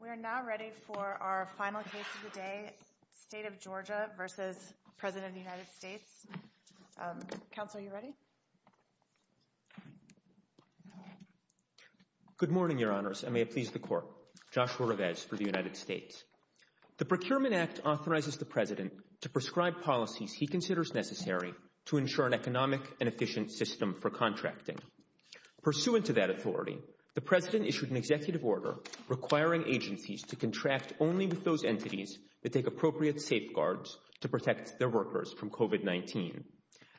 We are now ready for our final case of the day, State of Georgia v. President of the United States. Counsel, are you ready? Good morning, Your Honors, and may it please the Court. Joshua Revesz for the United States. The Procurement Act authorizes the President to prescribe policies he considers necessary to ensure an economic and efficient system for contracting. Pursuant to that authority, the President issued an executive order requiring agencies to contract only with those entities that take appropriate safeguards to protect their workers from COVID-19.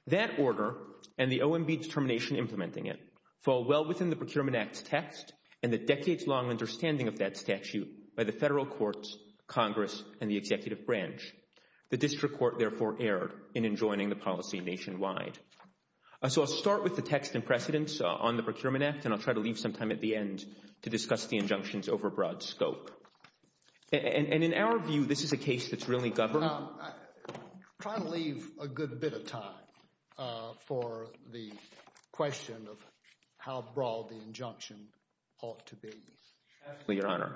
That order, and the OMB determination implementing it, fall well within the Procurement Act's text, and the decades-long understanding of that statute by the Federal Courts, Congress, and the Executive Branch. The District Court, therefore, erred in enjoining the policy nationwide. So I'll start with the text and precedents on the Procurement Act, and I'll try to leave some time at the end to discuss the injunction's overbroad scope. And in our view, this is a case that's really governed— I'll try to leave a good bit of time for the question of how broad the injunction ought to be. Absolutely, Your Honor.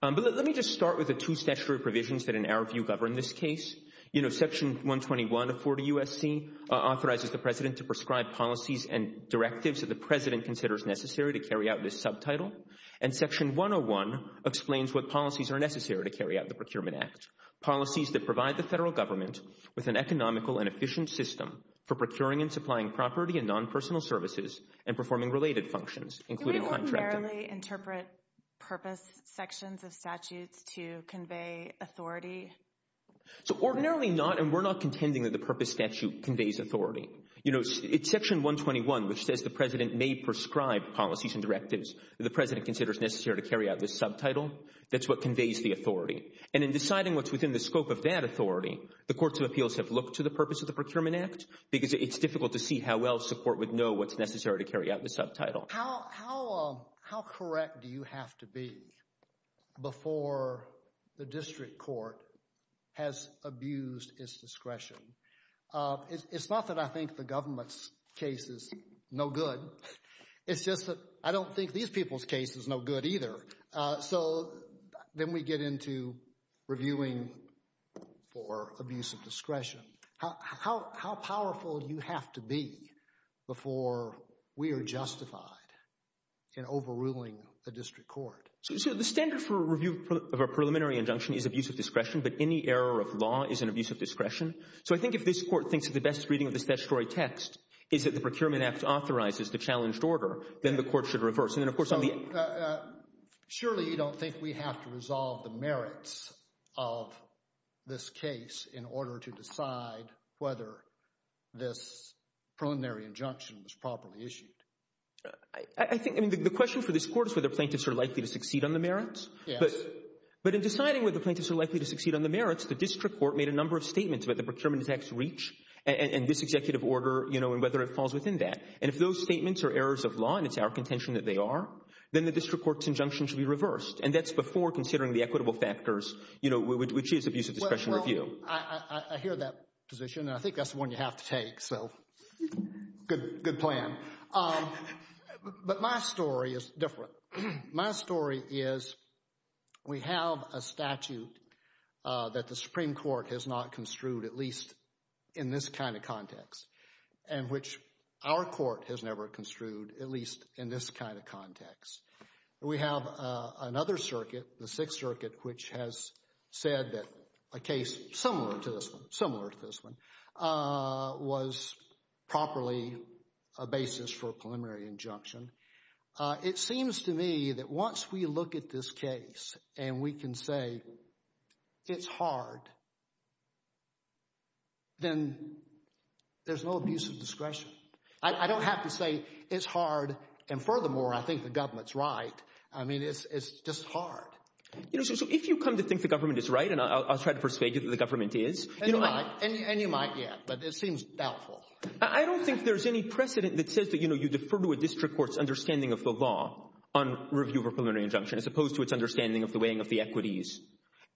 But let me just start with the two statutory provisions that, in our view, govern this case. You know, Section 121 of 40 U.S.C. authorizes the President to prescribe policies and directives that the President considers necessary to carry out this subtitle. And Section 101 explains what policies are necessary to carry out the Procurement Act. Policies that provide the Federal Government with an economical and efficient system for procuring and supplying property and non-personal services and performing related functions, including contracting— Do we ordinarily interpret purpose sections of statutes to convey authority? So ordinarily not, and we're not contending that the purpose statute conveys authority. You know, it's Section 121, which says the President may prescribe policies and directives that the President considers necessary to carry out this subtitle. That's what conveys the authority. And in deciding what's within the scope of that authority, the Courts of Appeals have looked to the purpose of the Procurement Act because it's difficult to see how well support would know what's necessary to carry out the subtitle. How correct do you have to be before the District Court has abused its discretion? It's not that I think the government's case is no good. It's just that I don't think these people's case is no good either. So then we get into reviewing for abuse of discretion. How powerful do you have to be before we are justified in overruling the District Court? So the standard for review of a preliminary injunction is abuse of discretion, but any error of law is an abuse of discretion. So I think if this Court thinks that the best reading of this statutory text is that the Procurement Act authorizes the challenged order, then the Court should reverse. So surely you don't think we have to resolve the merits of this case in order to decide whether this preliminary injunction was properly issued? The question for this Court is whether plaintiffs are likely to succeed on the merits. But in deciding whether plaintiffs are likely to succeed on the merits, the District Court made a number of statements about the Procurement Act's reach and this executive order and whether it falls within that. And if those statements are errors of law and it's our contention that they are, then the District Court's injunction should be reversed. And that's before considering the equitable factors, you know, which is abuse of discretion review. I hear that position and I think that's the one you have to take. So good plan. But my story is different. My story is we have a statute that the Supreme Court has not construed, at least in this kind of context, and which our Court has never construed, at least in this kind of context. We have another circuit, the Sixth Circuit, which has said that a case similar to this one, similar to this one, was properly a basis for a preliminary injunction. It seems to me that once we look at this case and we can say it's hard, then there's no abuse of discretion. I don't have to say it's hard, and furthermore, I think the government's right. I mean, it's just hard. You know, so if you come to think the government is right, and I'll try to persuade you that the government is. And you might get, but it seems doubtful. I don't think there's any precedent that says that, you know, you defer to a district court's understanding of the law on review of a preliminary injunction, as opposed to its understanding of the weighing of the equities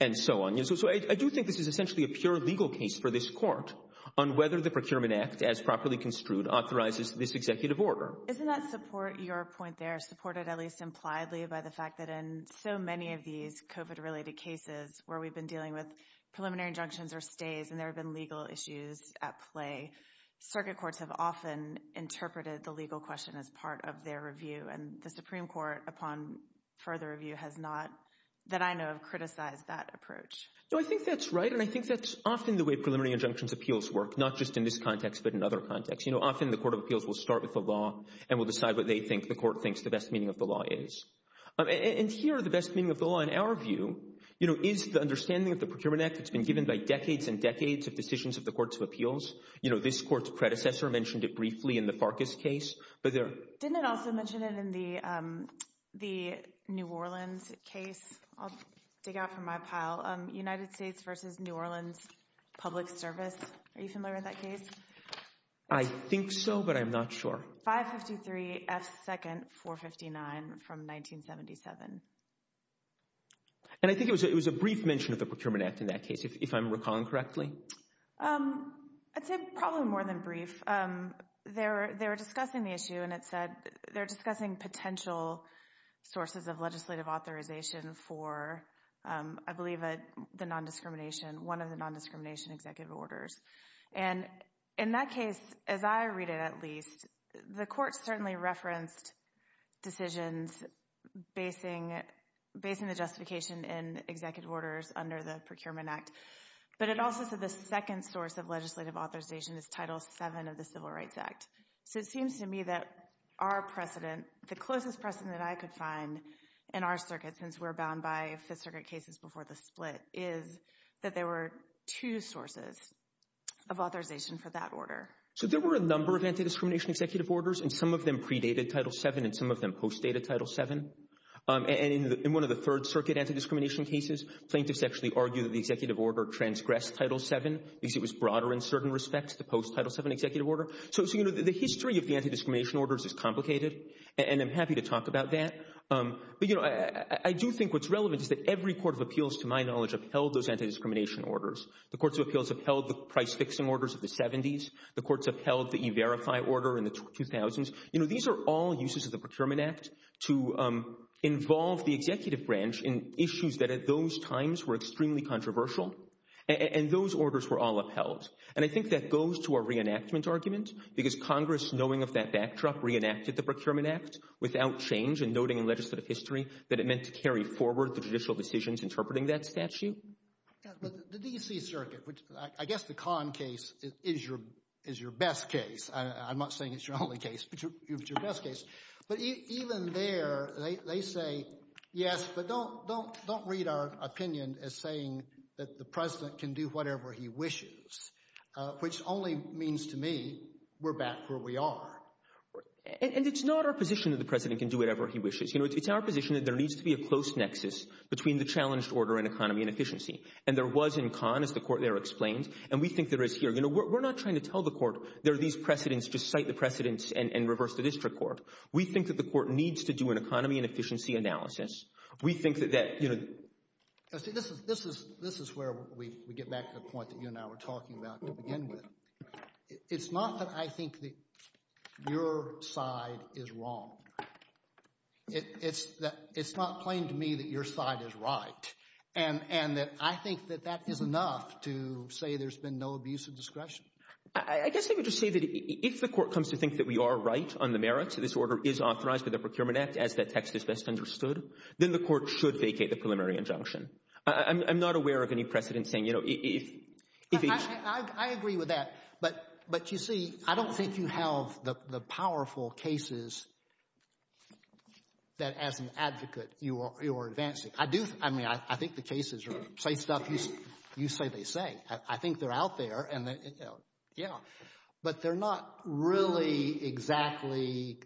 and so on. So I do think this is essentially a pure legal case for this Court on whether the Procurement Act, as properly construed, authorizes this executive order. Isn't that support, your point there, supported at least impliedly by the fact that in so many of these COVID-related cases where we've been dealing with preliminary injunctions or stays, and there have been legal issues at play, circuit courts have often interpreted the legal question as part of their review, and the Supreme Court, upon further review, has not, that I know of, criticized that approach. No, I think that's right, and I think that's often the way preliminary injunctions appeals work, not just in this context, but in other contexts. You know, often the Court of Appeals will start with the law and will decide what they think the Court thinks the best meaning of the law is. And here, the best meaning of the law, in our view, you know, is the understanding of decades and decades of decisions of the Courts of Appeals. You know, this Court's predecessor mentioned it briefly in the Farkas case, but there— Didn't it also mention it in the New Orleans case? I'll dig out from my pile. United States v. New Orleans Public Service. Are you familiar with that case? I think so, but I'm not sure. 553 F. 2nd 459 from 1977. And I think it was a brief mention of the Procurement Act in that case, if I'm recalling correctly. I'd say probably more than brief. They were discussing the issue, and it said they were discussing potential sources of legislative authorization for, I believe, the nondiscrimination—one of the nondiscrimination executive orders. And in that case, as I read it at least, the Court certainly referenced decisions basing the justification in executive orders under the Procurement Act. But it also said the second source of legislative authorization is Title VII of the Civil Rights Act. So it seems to me that our precedent—the closest precedent I could find in our circuit, since we're bound by Fifth Circuit cases before the split, is that there were two sources of authorization for that order. So there were a number of antidiscrimination executive orders, and some of them predated Title VII and some of them postdated Title VII. And in one of the Third Circuit antidiscrimination cases, plaintiffs actually argued that the executive order transgressed Title VII because it was broader in certain respects to post Title VII executive order. So, you know, the history of the antidiscrimination orders is complicated, and I'm happy to talk about that. But, you know, I do think what's relevant is that every court of appeals, to my knowledge, upheld those antidiscrimination orders. The courts of appeals upheld the price-fixing orders of the 70s. The courts upheld the E-Verify order in the 2000s. You know, these are all uses of the Procurement Act to involve the executive branch in issues that at those times were extremely controversial, and those orders were all upheld. And I think that goes to our reenactment argument, because Congress, knowing of that backdrop, reenacted the Procurement Act without change and noting in legislative history that it meant to carry forward the judicial decisions interpreting that statute. Yeah, but the D.C. Circuit, which I guess the Kahn case is your best case—I'm not saying it's your only case, but your best case—but even there, they say, yes, but don't read our opinion as saying that the president can do whatever he wishes, which only means to me we're back where we are. And it's not our position that the president can do whatever he wishes. You know, it's our position that there needs to be a close nexus between the challenged order and economy and efficiency, and there was in Kahn, as the Court there explained, and we think there is here. We're not trying to tell the Court there are these precedents, just cite the precedents and reverse the district court. We think that the Court needs to do an economy and efficiency analysis. We think that— This is where we get back to the point that you and I were talking about to begin with. It's not that I think that your side is wrong. It's not plain to me that your side is right, and that I think that that is enough to say there's been no abuse of discretion. I guess I would just say that if the Court comes to think that we are right on the merits, this order is authorized by the Procurement Act, as that text is best understood, then the Court should vacate the preliminary injunction. I'm not aware of any precedent saying, you know, if each— I agree with that, but you see, I don't think you have the powerful cases that, as an advocate, you are advancing. I do—I mean, I think the cases say stuff you say they say. I think they're out there, and yeah. But they're not really exactly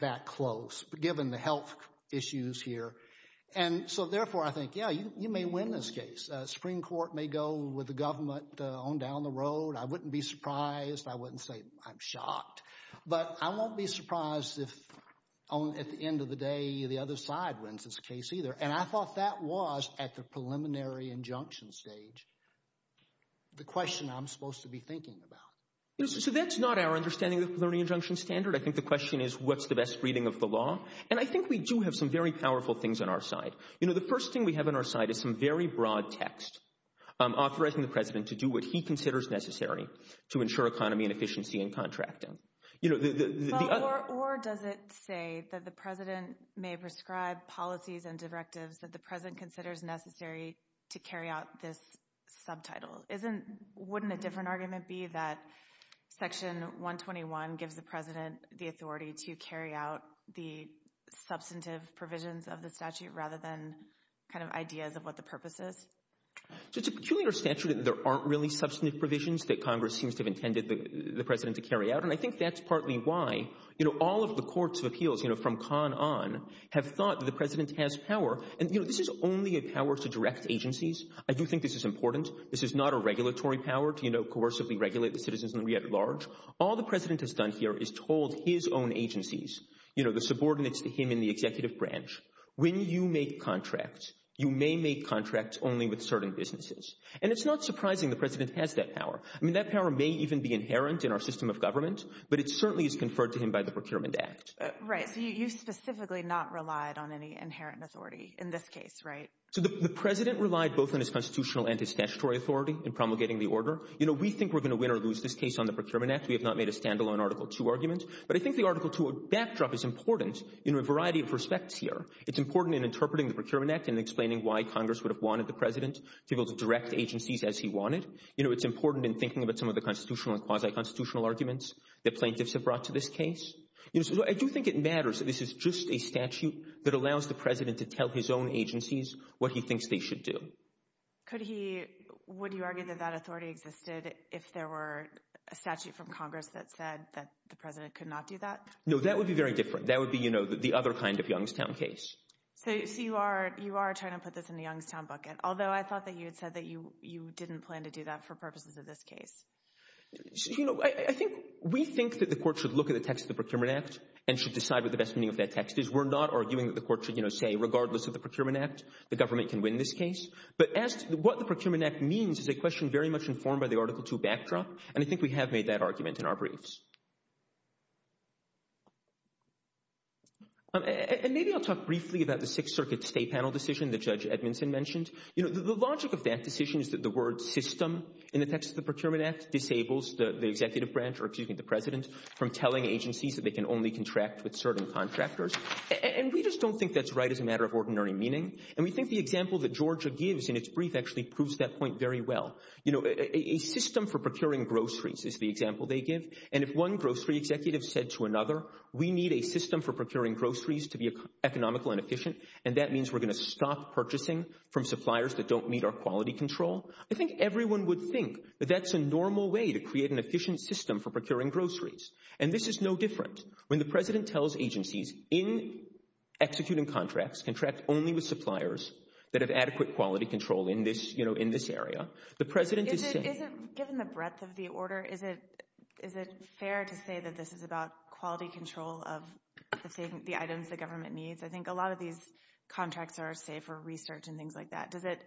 that close, given the health issues here. And so therefore, I think, yeah, you may win this case. Supreme Court may go with the government on down the road. I wouldn't be surprised. I wouldn't say I'm shocked. But I won't be surprised if, at the end of the day, the other side wins this case either. And I thought that was, at the preliminary injunction stage, the question I'm supposed to be thinking about. So that's not our understanding of the preliminary injunction standard. I think the question is, what's the best reading of the law? And I think we do have some very powerful things on our side. You know, the first thing we have on our side is some very broad text authorizing the President to do what he considers necessary to ensure economy and efficiency in contracting. You know, the other— So it's a peculiar statute. There aren't really substantive provisions that Congress seems to have intended the President to carry out. And I think that's partly why, you know, all of the courts of appeals, you know, from And, you know, this is only a power to direct agencies. I do think this is important. This is not a regulatory power to, you know, coercively regulate the citizens at large. All the President has done here is told his own agencies, you know, the subordinates to him in the executive branch, when you make contracts, you may make contracts only with certain businesses. And it's not surprising the President has that power. I mean, that power may even be inherent in our system of government, but it certainly is conferred to him by the Procurement Act. Right. So you specifically not relied on any inherent authority in this case, right? So the President relied both on his constitutional and his statutory authority in promulgating the order. You know, we think we're going to win or lose this case on the Procurement Act. We have not made a standalone Article II argument. But I think the Article II backdrop is important in a variety of respects here. It's important in interpreting the Procurement Act and explaining why Congress would have wanted the President to be able to direct agencies as he wanted. You know, it's important in thinking about some of the constitutional and quasi-constitutional arguments that plaintiffs have brought to this case. I do think it matters that this is just a statute that allows the President to tell his own agencies what he thinks they should do. Could he, would you argue that that authority existed if there were a statute from Congress that said that the President could not do that? No, that would be very different. That would be, you know, the other kind of Youngstown case. So you are trying to put this in the Youngstown bucket, although I thought that you had said that you didn't plan to do that for purposes of this case. You know, I think, we think that the Court should look at the text of the Procurement Act and should decide what the best meaning of that text is. We're not arguing that the Court should, you know, say regardless of the Procurement Act, the government can win this case. But as to what the Procurement Act means is a question very much informed by the Article II backdrop, and I think we have made that argument in our briefs. And maybe I'll talk briefly about the Sixth Circuit State Panel decision that Judge Edmondson mentioned. You know, the logic of that decision is that the word system in the text of the Procurement Act disables the executive branch, or excuse me, the president, from telling agencies that they can only contract with certain contractors. And we just don't think that's right as a matter of ordinary meaning. And we think the example that Georgia gives in its brief actually proves that point very well. You know, a system for procuring groceries is the example they give. And if one grocery executive said to another, we need a system for procuring groceries to be economical and efficient, and that means we're going to stop purchasing from suppliers that don't meet our quality control. I think everyone would think that that's a normal way to create an efficient system for procuring groceries. And this is no different. When the president tells agencies, in executing contracts, contract only with suppliers that have adequate quality control in this, you know, in this area, the president is saying— Is it—given the breadth of the order, is it—is it fair to say that this is about quality control of the items the government needs? I think a lot of these contracts are, say, for research and things like that. Does it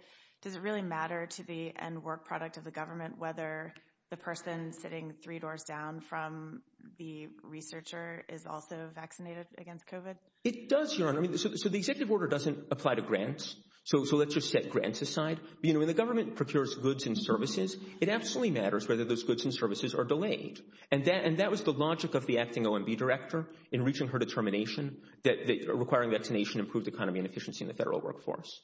really matter to the end work product of the government whether the person sitting three doors down from the researcher is also vaccinated against COVID? It does, Your Honor. So the executive order doesn't apply to grants, so let's just set grants aside. You know, when the government procures goods and services, it absolutely matters whether those goods and services are delayed. And that was the logic of the acting OMB director in reaching her determination that requiring vaccination improved economy and efficiency in the federal workforce.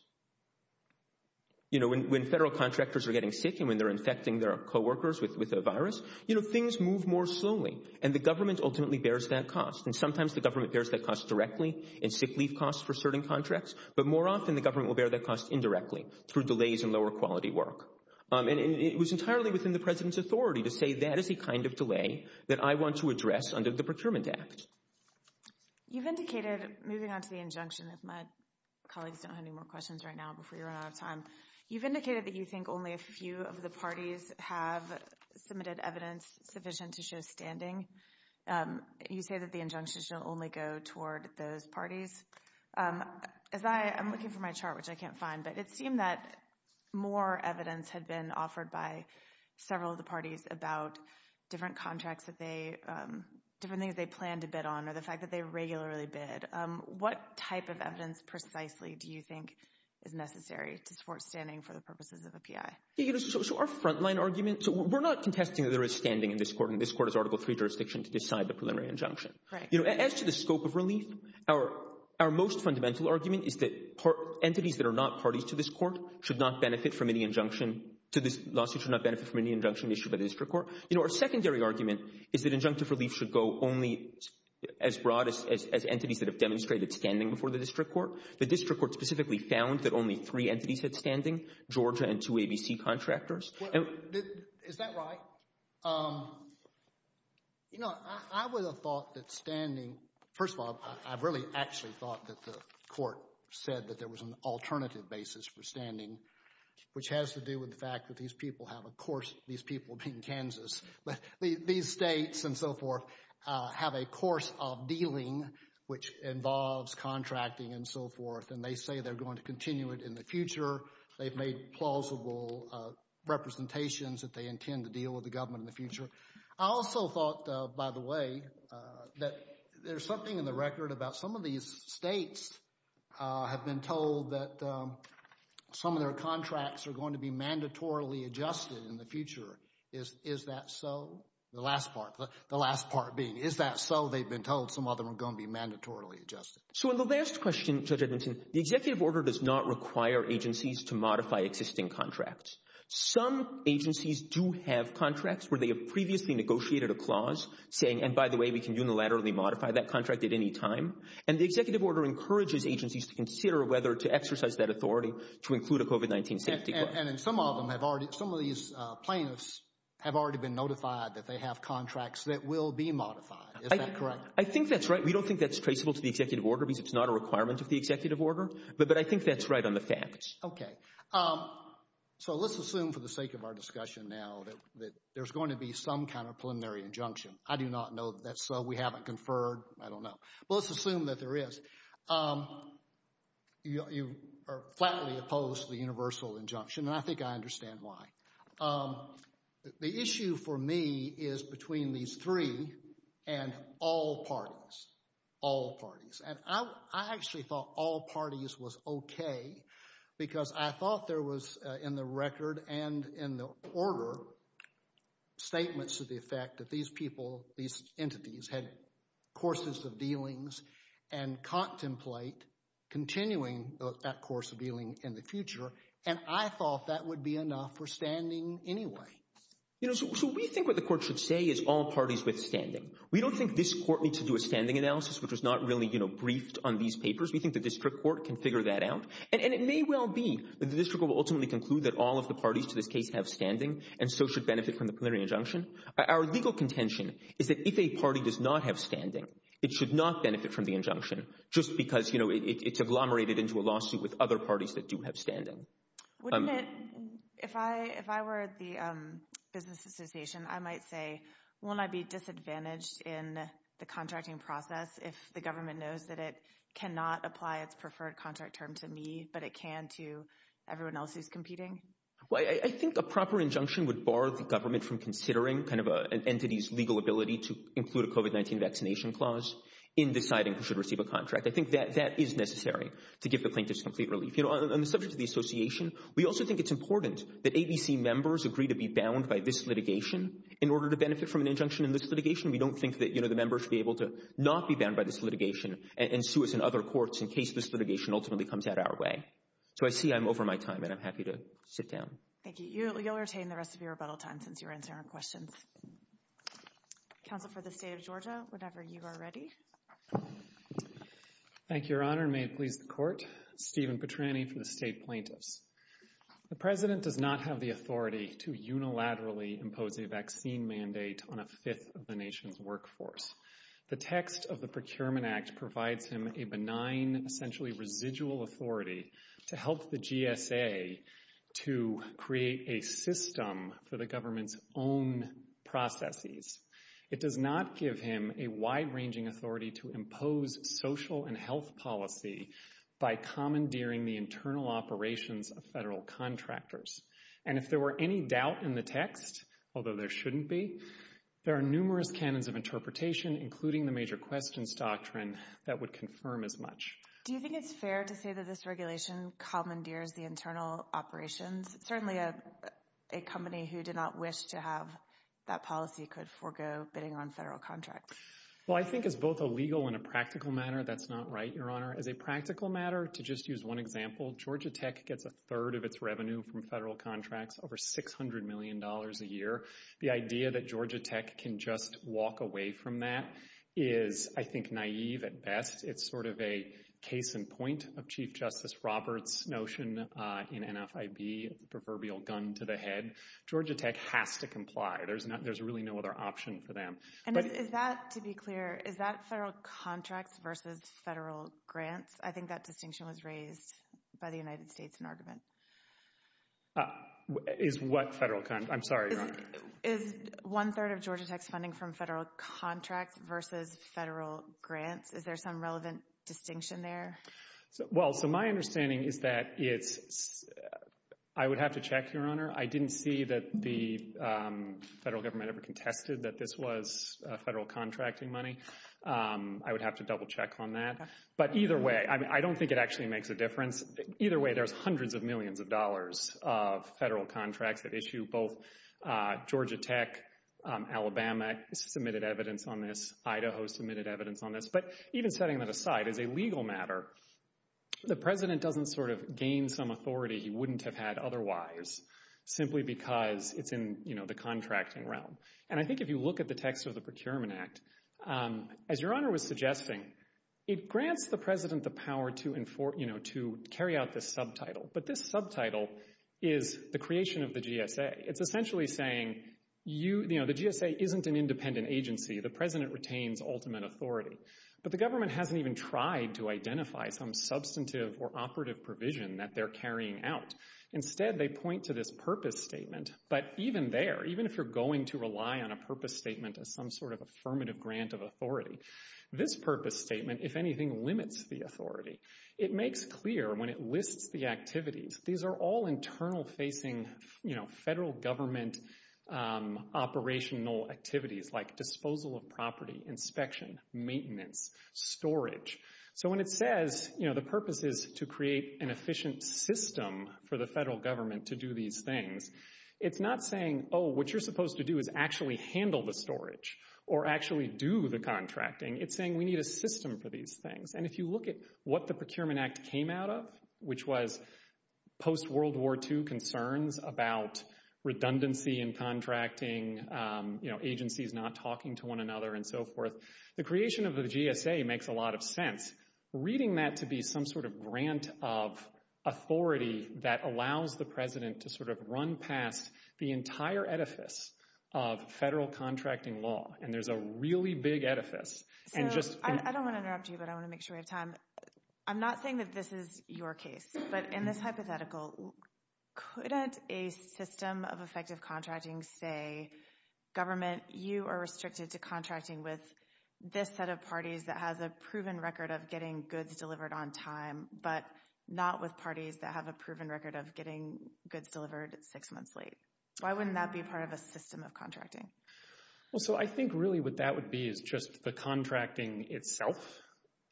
You know, when federal contractors are getting sick and when they're infecting their co-workers with a virus, you know, things move more slowly. And the government ultimately bears that cost. And sometimes the government bears that cost directly in sick leave costs for certain contracts, but more often the government will bear that cost indirectly through delays in lower quality work. And it was entirely within the president's authority to say that is the kind of delay that I want to address under the Procurement Act. You've indicated, moving on to the injunction, if my colleagues don't have any more questions right now before we run out of time, you've indicated that you think only a few of the parties have submitted evidence sufficient to show standing. You say that the injunction should only go toward those parties. As I am looking for my chart, which I can't find, but it seemed that more evidence had been offered by several of the parties about different contracts that they, different things they planned to bid on or the fact that they regularly bid. What type of evidence precisely do you think is necessary to support standing for the purposes of a PI? You know, so our frontline argument, so we're not contesting that there is standing in this court, and this court is Article III jurisdiction to decide the preliminary injunction. As to the scope of relief, our most fundamental argument is that entities that are not parties to this court should not benefit from any injunction, to this lawsuit should not benefit from any injunction issued by the district court. You know, our secondary argument is that injunctive relief should go only as broad as entities that have demonstrated standing before the district court. The district court specifically found that only three entities had standing, Georgia and two ABC contractors. Is that right? You know, I would have thought that standing, first of all, I really actually thought that the court said that there was an alternative basis for standing, which has to do with the fact that these people have a course, these people being Kansas, but these states and their course of dealing, which involves contracting and so forth, and they say they're going to continue it in the future. They've made plausible representations that they intend to deal with the government in the future. I also thought, by the way, that there's something in the record about some of these states have been told that some of their contracts are going to be mandatorily adjusted in the future. Is that so? The last part, the last part being, is that so they've been told some of them are going to be mandatorily adjusted? So in the last question, Judge Edmonton, the executive order does not require agencies to modify existing contracts. Some agencies do have contracts where they have previously negotiated a clause saying, and by the way, we can unilaterally modify that contract at any time. And the executive order encourages agencies to consider whether to exercise that authority to include a COVID-19 safety clause. And some of them have already, some of these plaintiffs have already been notified that they have contracts that will be modified. Is that correct? I think that's right. We don't think that's traceable to the executive order because it's not a requirement of the executive order, but I think that's right on the facts. Okay. So let's assume for the sake of our discussion now that there's going to be some kind of preliminary injunction. I do not know that's so. We haven't conferred. I don't know. But let's assume that there is. You are flatly opposed to the universal injunction, and I think I understand why. The issue for me is between these three and all parties, all parties. And I actually thought all parties was okay because I thought there was in the record and in the order statements to the effect that these people, these entities had courses of dealings and contemplate continuing that course of dealing in the future. And I thought that would be enough for standing anyway. You know, so we think what the court should say is all parties with standing. We don't think this court needs to do a standing analysis, which was not really, you know, briefed on these papers. We think the district court can figure that out. And it may well be that the district will ultimately conclude that all of the parties to this case have standing and so should benefit from the preliminary injunction. Our legal contention is that if a party does not have standing, it should not benefit from the injunction just because, you know, it's agglomerated into a lawsuit with other parties that do have standing. If I were at the Business Association, I might say, won't I be disadvantaged in the contracting process if the government knows that it cannot apply its preferred contract term to me, but it can to everyone else who's competing? Well, I think a proper injunction would bar the government from considering kind of an entity's legal ability to include a COVID-19 vaccination clause in deciding who should receive a contract. I think that that is necessary to give the plaintiffs complete relief. You know, on the subject of the association, we also think it's important that ABC members agree to be bound by this litigation in order to benefit from an injunction in this litigation. We don't think that, you know, the members should be able to not be bound by this litigation and sue us in other courts in case this litigation ultimately comes out our way. So I see I'm over my time, and I'm happy to sit down. Thank you. You'll retain the rest of your rebuttal time since you're answering our questions. Counsel for the State of Georgia, whenever you are ready. Thank you, Your Honor. May it please the Court. Stephen Petrani for the State Plaintiffs. The President does not have the authority to unilaterally impose a vaccine mandate on a fifth of the nation's workforce. The text of the Procurement Act provides him a benign, essentially residual authority to help the GSA to create a system for the government's own processes. It does not give him a wide-ranging authority to impose social and health policy by commandeering the internal operations of federal contractors. And if there were any doubt in the text, although there shouldn't be, there are numerous canons of interpretation, including the major questions doctrine, that would confirm as much. Do you think it's fair to say that this regulation commandeers the internal operations? Certainly a company who did not wish to have that policy could forego bidding on federal contracts. Well, I think it's both a legal and a practical matter. That's not right, Your Honor. As a practical matter, to just use one example, Georgia Tech gets a third of its revenue from federal contracts, over $600 million a year. The idea that Georgia Tech can just walk away from that is, I think, naive at best. It's sort of a case in point of Chief Justice Roberts' notion in NFIB, the proverbial gun to the head. Georgia Tech has to comply. There's really no other option for them. And is that, to be clear, is that federal contracts versus federal grants? I think that distinction was raised by the United States in argument. Is what federal? I'm sorry, Your Honor. Is one-third of Georgia Tech's funding from federal contracts versus federal grants? Is there some relevant distinction there? Well, so my understanding is that it's, I would have to check, Your Honor. I didn't see that the federal government ever contested that this was federal contracting money. I would have to double check on that. But either way, I mean, I don't think it actually makes a difference. Either way, there's hundreds of millions of dollars of federal contracts that issue both Georgia Tech, Alabama submitted evidence on this, Idaho submitted evidence on this. But even setting that aside, as a legal matter, the President doesn't sort of gain some authority he wouldn't have had otherwise simply because it's in the contracting realm. And I think if you look at the text of the Procurement Act, as Your Honor was suggesting, it grants the President the power to, you know, to carry out this subtitle. But this subtitle is the creation of the GSA. It's essentially saying, you know, the GSA isn't an independent agency. The President retains ultimate authority. But the government hasn't even tried to identify some substantive or operative provision that they're carrying out. Instead, they point to this purpose statement. But even there, even if you're going to rely on a purpose statement as some sort of affirmative grant of authority, this purpose statement, if anything, limits the authority. It makes clear when it lists the activities, these are all internal facing, you know, federal government operational activities like disposal of property, inspection, maintenance, storage. So when it says, you know, the purpose is to create an efficient system for the federal government to do these things, it's not saying, oh, what you're supposed to do is actually handle the storage or actually do the contracting. It's saying we need a system for these things. And if you look at what the Procurement Act came out of, which was post-World War II concerns about redundancy in contracting, you know, agencies not talking to one another and so forth, the creation of the GSA makes a lot of sense. Reading that to be some sort of grant of authority that allows the President to sort of run past the entire edifice of federal contracting law. And there's a really big edifice. So I don't want to interrupt you, but I want to make sure we have time. I'm not saying that this is your case, but in this hypothetical, couldn't a system of effective contracting say, government, you are restricted to contracting with this set of parties that has a proven record of getting goods delivered on time, but not with parties that have a proven record of getting goods delivered six months late? Why wouldn't that be part of a system of contracting? Well, so I think really what that would be is just the contracting itself.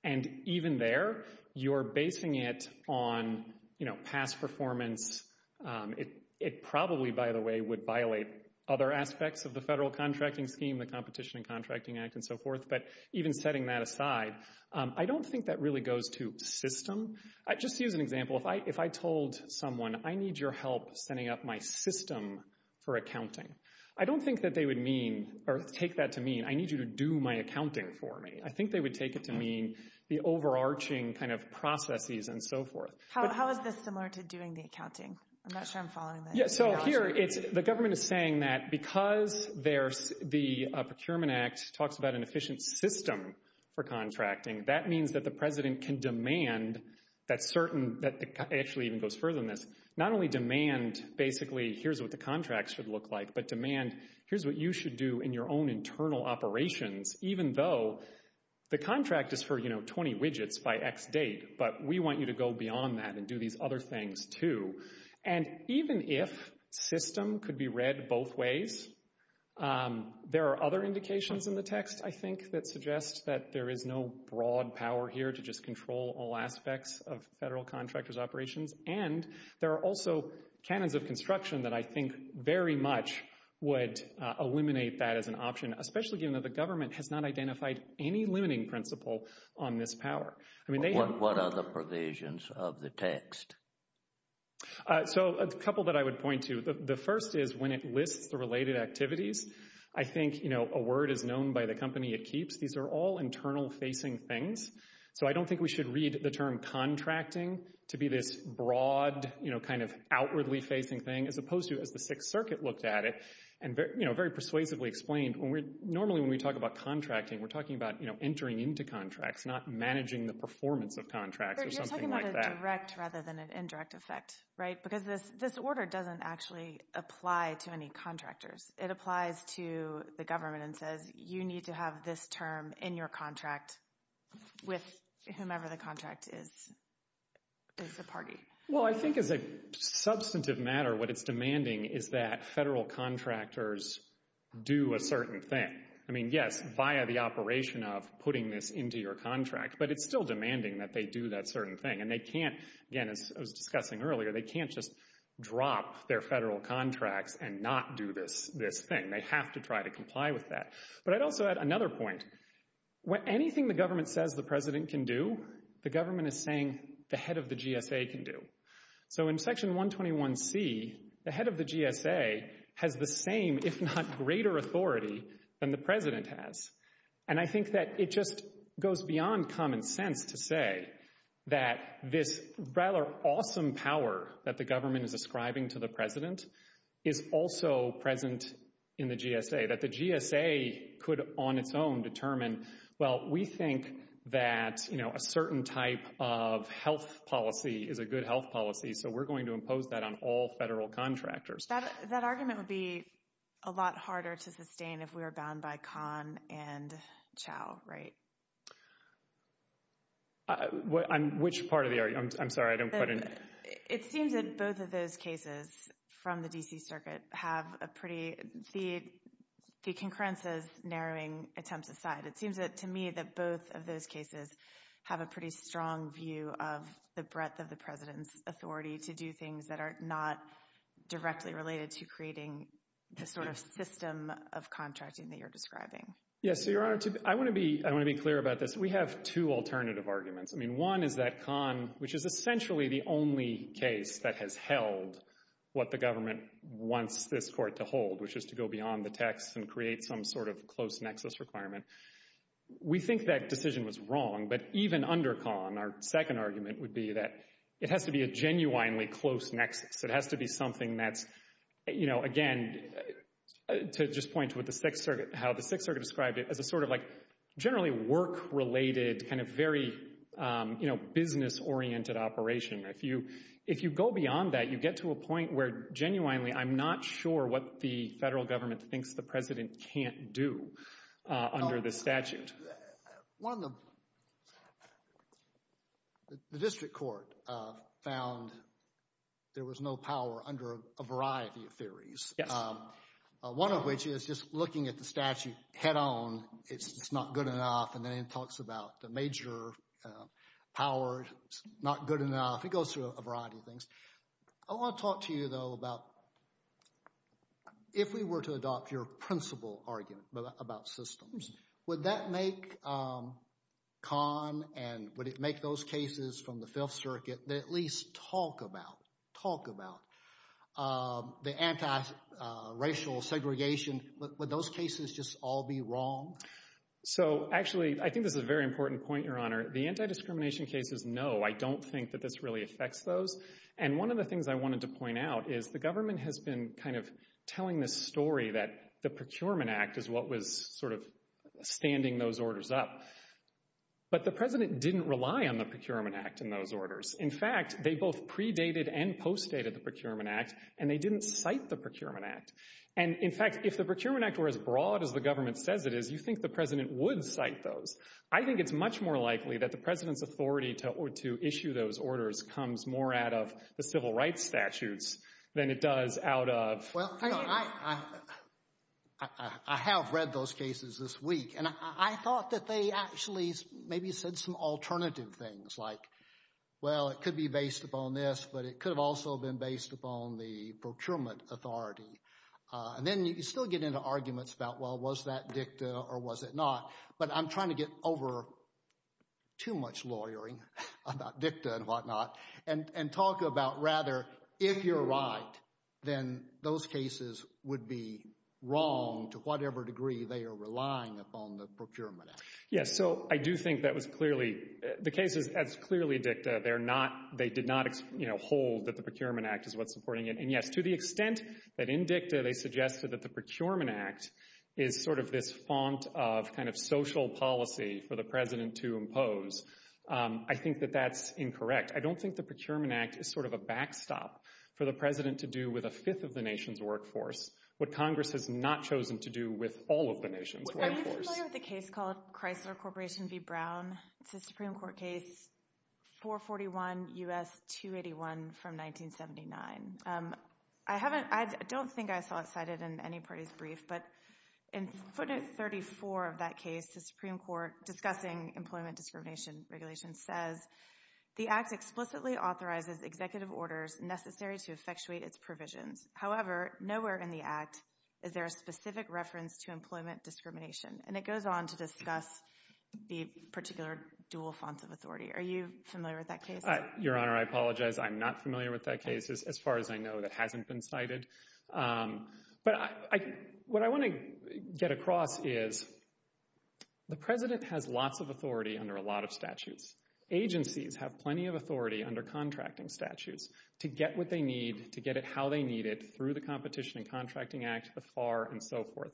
And even there, you're basing it on, you know, past performance. It probably, by the way, would violate other aspects of the federal contracting scheme, the Competition and Contracting Act, and so forth. But even setting that aside, I don't think that really goes to system. Just to use an example, if I told someone, I need your help setting up my system for accounting, I don't think that they would mean, or take that to mean, I need you to do my accounting for me. I think they would take it to mean the overarching kind of processes and so forth. How is this similar to doing the accounting? I'm not sure I'm following that. Yeah, so here, the government is saying that because the Procurement Act talks about an system for contracting, that means that the President can demand that certain, that actually even goes further than this, not only demand, basically, here's what the contracts should look like, but demand, here's what you should do in your own internal operations, even though the contract is for, you know, 20 widgets by x date. But we want you to go beyond that and do these other things, too. And even if system could be read both ways, there are other indications in the text, that suggest that there is no broad power here to just control all aspects of federal contractors' operations. And there are also canons of construction that I think very much would eliminate that as an option, especially given that the government has not identified any limiting principle on this power. What are the provisions of the text? So a couple that I would point to. The first is when it lists the related activities, I think, you know, a word is known by the company it keeps. These are all internal facing things. So I don't think we should read the term contracting to be this broad, you know, kind of outwardly facing thing, as opposed to, as the Sixth Circuit looked at it, and, you know, very persuasively explained, when we're, normally when we talk about contracting, we're talking about, you know, entering into contracts, not managing the performance of contracts or something like that. You're talking about a direct rather than an indirect effect, right? Because this order doesn't actually apply to any contractors. It applies to the government and says, you need to have this term in your contract with whomever the contract is, is the party. Well, I think as a substantive matter, what it's demanding is that federal contractors do a certain thing. I mean, yes, via the operation of putting this into your contract, but it's still demanding that they do that certain thing. And they can't, again, as I was discussing earlier, they can't just drop their federal contracts and not do this thing. They have to try to comply with that. But I'd also add another point. When anything the government says the president can do, the government is saying the head of the GSA can do. So in Section 121C, the head of the GSA has the same, if not greater authority than the president has. And I think that it just goes beyond common sense to say that this rather awesome power that the government is ascribing to the president is also present in the GSA. That the GSA could, on its own, determine, well, we think that a certain type of health policy is a good health policy. So we're going to impose that on all federal contractors. That argument would be a lot harder to sustain if we were bound by Khan and Chao, right? Which part of the argument? I'm sorry, I don't quite understand. It seems that both of those cases from the D.C. Circuit have a pretty, the concurrence is narrowing attempts aside. It seems to me that both of those cases have a pretty strong view of the breadth of the president's authority to do things that are not directly related to creating the sort of system of contracting that you're describing. Yes, so Your Honor, I want to be clear about this. We have two alternative arguments. One is that Khan, which is essentially the only case that has held what the government wants this court to hold, which is to go beyond the text and create some sort of close nexus requirement. We think that decision was wrong, but even under Khan, our second argument would be that it has to be a genuinely close nexus. It has to be something that's, you know, again, to just point to how the Sixth Circuit described it as a sort of like generally work-related kind of very, you know, business oriented operation. If you go beyond that, you get to a point where genuinely I'm not sure what the federal government thinks the president can't do under the statute. One of the, the district court found there was no power under a variety of theories. One of which is just looking at the statute head on, it's not good enough. And then it talks about the major power, it's not good enough. It goes through a variety of things. I want to talk to you, though, about if we were to adopt your principal argument about systems, would that make Khan and would it make those cases from the Fifth Circuit that at least talk about, talk about the anti-racial segregation? Would those cases just all be wrong? So, actually, I think this is a very important point, Your Honor. The anti-discrimination cases, no, I don't think that this really affects those. And one of the things I wanted to point out is the government has been kind of telling this story that the Procurement Act is what was sort of standing those orders up. But the president didn't rely on the Procurement Act in those orders. In fact, they both predated and postdated the Procurement Act, and they didn't cite the Procurement Act. And, in fact, if the Procurement Act were as broad as the government says it is, you think the president would cite those. I think it's much more likely that the president's authority to issue those orders comes more out of the civil rights statutes than it does out of... Well, Your Honor, I have read those cases this week, and I thought that they actually maybe said some alternative things, like, well, it could be based upon this, but it could have also been based upon the procurement authority. And then you still get into arguments about, well, was that dicta or was it not? But I'm trying to get over too much lawyering about dicta and whatnot and talk about, rather, if you're right, then those cases would be wrong to whatever degree they are relying upon the Procurement Act. Yes, so I do think that was clearly... The cases, as clearly dicta, they did not hold that the Procurement Act is what's supporting it. And, yes, to the extent that in dicta they suggested that the Procurement Act is sort of this font of kind of social policy for the president to impose, I think that that's incorrect. I don't think the Procurement Act is sort of a backstop for the president to do with a fifth of the nation's workforce, what Congress has not chosen to do with all of the nation's workforce. Are you familiar with a case called Chrysler Corporation v. Brown? It's a Supreme Court case, 441 U.S. 281 from 1979. I don't think I saw it cited in any party's brief, but in footnote 34 of that case, the Supreme Court discussing employment discrimination regulation says, the act explicitly authorizes executive orders necessary to effectuate its provisions. However, nowhere in the act is there a specific reference to employment discrimination. And it goes on to discuss the particular dual fonts of authority. Are you familiar with that case? Your Honor, I apologize. I'm not familiar with that case as far as I know that hasn't been cited. But what I want to get across is the president has lots of authority under a lot of statutes. Agencies have plenty of authority under contracting statutes to get what they need, to get it needed through the Competition and Contracting Act, the FAR, and so forth.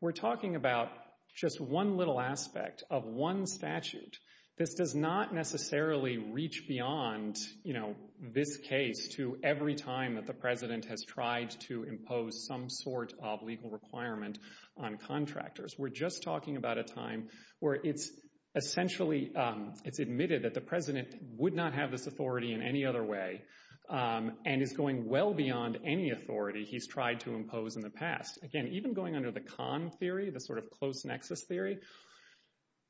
We're talking about just one little aspect of one statute. This does not necessarily reach beyond, you know, this case to every time that the president has tried to impose some sort of legal requirement on contractors. We're just talking about a time where it's essentially, it's admitted that the president would not have this authority in any other way and is going well beyond any authority he's tried to impose in the past. Again, even going under the Kahn theory, the sort of close nexus theory,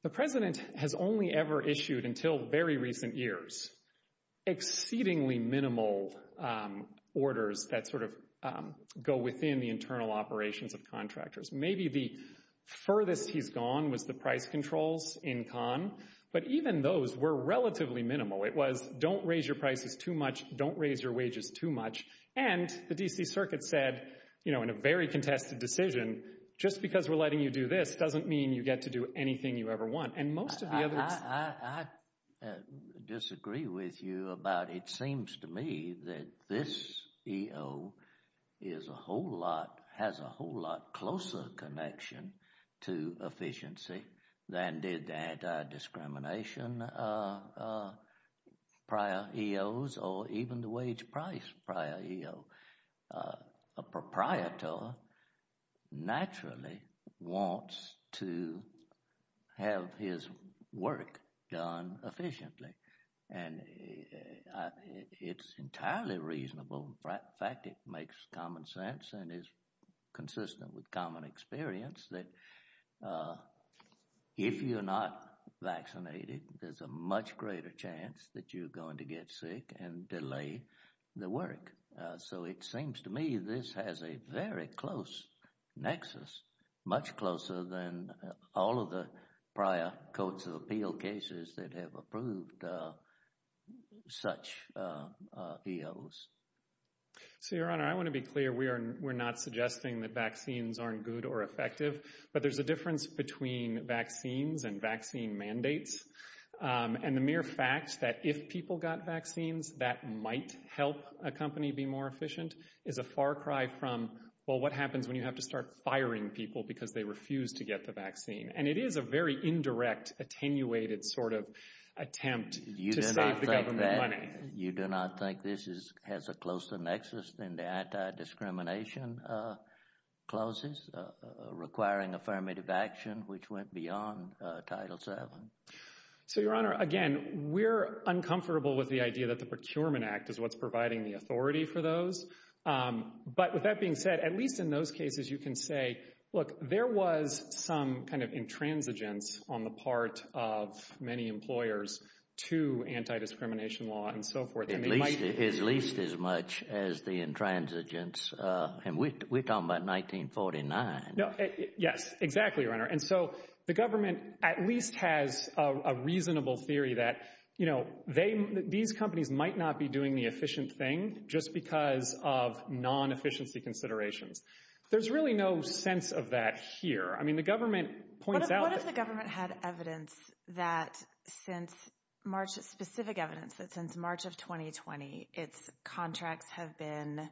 the president has only ever issued, until very recent years, exceedingly minimal orders that sort of go within the internal operations of contractors. Maybe the furthest he's gone was the price controls in Kahn. But even those were relatively minimal. It was, don't raise your prices too much. Don't raise your wages too much. And the D.C. Circuit said, you know, in a very contested decision, just because we're letting you do this doesn't mean you get to do anything you ever want. And most of the others— I disagree with you about it seems to me that this EO is a whole lot, has a whole lot closer connection to efficiency than did the anti-discrimination prior EOs or even the wage price prior EO. A proprietor naturally wants to have his work done efficiently. And it's entirely reasonable, in fact, it makes common sense and is consistent with common experience that if you're not vaccinated, there's a much greater chance that you're going to get sick and delay the work. So, it seems to me this has a very close nexus, much closer than all of the prior codes of appeal cases that have approved such EOs. So, Your Honor, I want to be clear. We're not suggesting that vaccines aren't good or effective, but there's a difference between vaccines and vaccine mandates. And the mere fact that if people got vaccines, that might help a company be more efficient is a far cry from, well, what happens when you have to start firing people because they refuse to get the vaccine? And it is a very indirect, attenuated sort of attempt to save the government money. You do not think this has a closer nexus than the anti-discrimination clauses requiring affirmative action, which went beyond Title VII? So, Your Honor, again, we're uncomfortable with the idea that the Procurement Act is what's providing the authority for those. But with that being said, at least in those cases, you can say, look, there was some kind of intransigence on the part of many employers to anti-discrimination law and so forth. At least as much as the intransigence, and we're talking about 1949. No, yes, exactly, Your Honor. And so the government at least has a reasonable theory that, you know, these companies might not be doing the efficient thing just because of non-efficiency considerations. There's really no sense of that here. I mean, the government points out— What if the government had evidence that since March, specific evidence, that since March of 2020, its contracts have been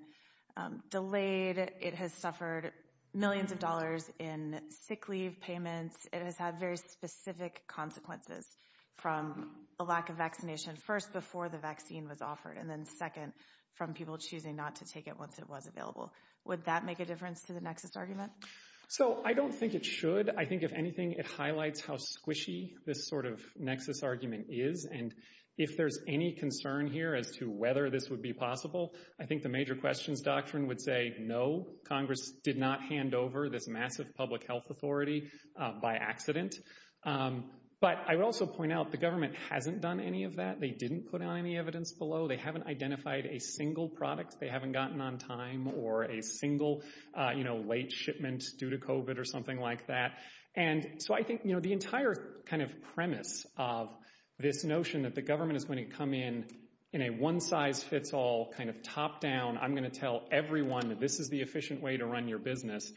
delayed, it has suffered millions of dollars in sick leave payments, it has had very specific consequences from a lack of vaccination, first before the vaccine was offered, and then second, from people choosing not to take it once it was available. Would that make a difference to the nexus argument? So I don't think it should. I think, if anything, it highlights how squishy this sort of nexus argument is. And if there's any concern here as to whether this would be possible, I think the major questions doctrine would say, no, Congress did not hand over this massive public health authority by accident. But I would also point out the government hasn't done any of that. They didn't put out any evidence below. They haven't identified a single product. They haven't gotten on time or a single, you know, late shipment due to COVID or something like that. And so I think, you know, the entire kind of premise of this notion that the government is going to come in in a one-size-fits-all kind of top-down, I'm going to tell everyone that this is the efficient way to run your business,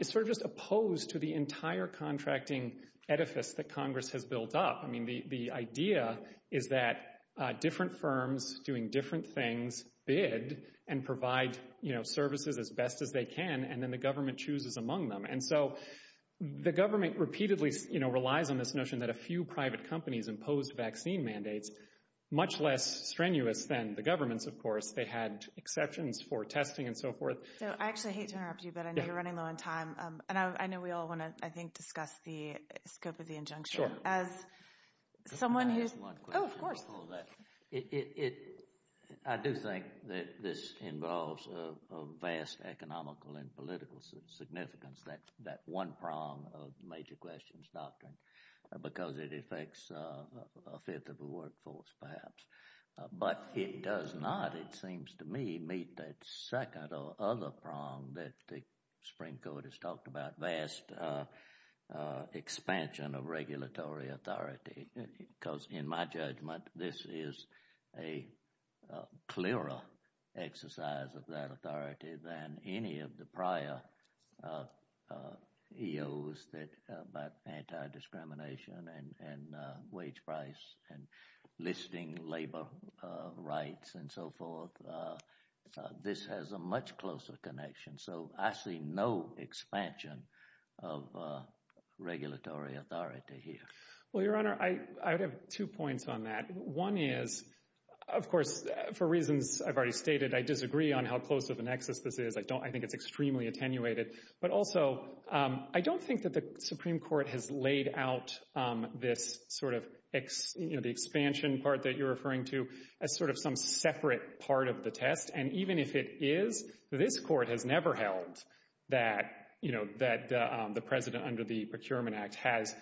is sort of just opposed to the entire contracting edifice that Congress has built up. The idea is that different firms doing different things bid and provide services as best as they can, and then the government chooses among them. And so the government repeatedly relies on this notion that a few private companies imposed vaccine mandates, much less strenuous than the governments, of course. They had exceptions for testing and so forth. So I actually hate to interrupt you, but I know you're running low on time. And I know we all want to, I think, discuss the scope of the injunction. As someone who's... Oh, of course. I do think that this involves a vast economical and political significance, that one prong of the major questions doctrine, because it affects a fifth of the workforce, perhaps. But it does not, it seems to me, meet that second or other prong that the Supreme Court has talked about, vast expansion of regulatory authority. Because in my judgment, this is a clearer exercise of that authority than any of the prior EOs about anti-discrimination and wage price and listing labor rights and so forth. This has a much closer connection. So I see no expansion of regulatory authority here. Well, Your Honor, I would have two points on that. One is, of course, for reasons I've already stated, I disagree on how close of a nexus this is. I think it's extremely attenuated. But also, I don't think that the Supreme Court has laid out this sort of expansion part that you're referring to as sort of some separate part of the test. And even if it is, this court has never held that the president under the Procurement Act has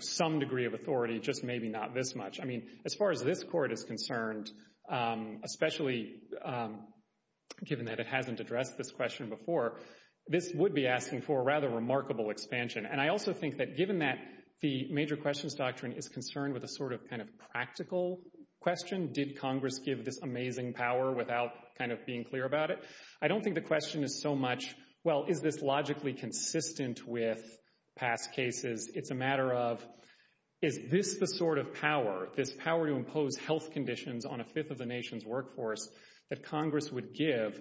some degree of authority, just maybe not this much. I mean, as far as this court is concerned, especially given that it hasn't addressed this question before, this would be asking for a rather remarkable expansion. And I also think that given that the major questions doctrine is concerned with a sort of kind of practical question, did Congress give this amazing power without kind of being clear about it? I don't think the question is so much, well, is this logically consistent with past cases? It's a matter of, is this the sort of power, this power to impose health conditions on a fifth of the nation's workforce that Congress would give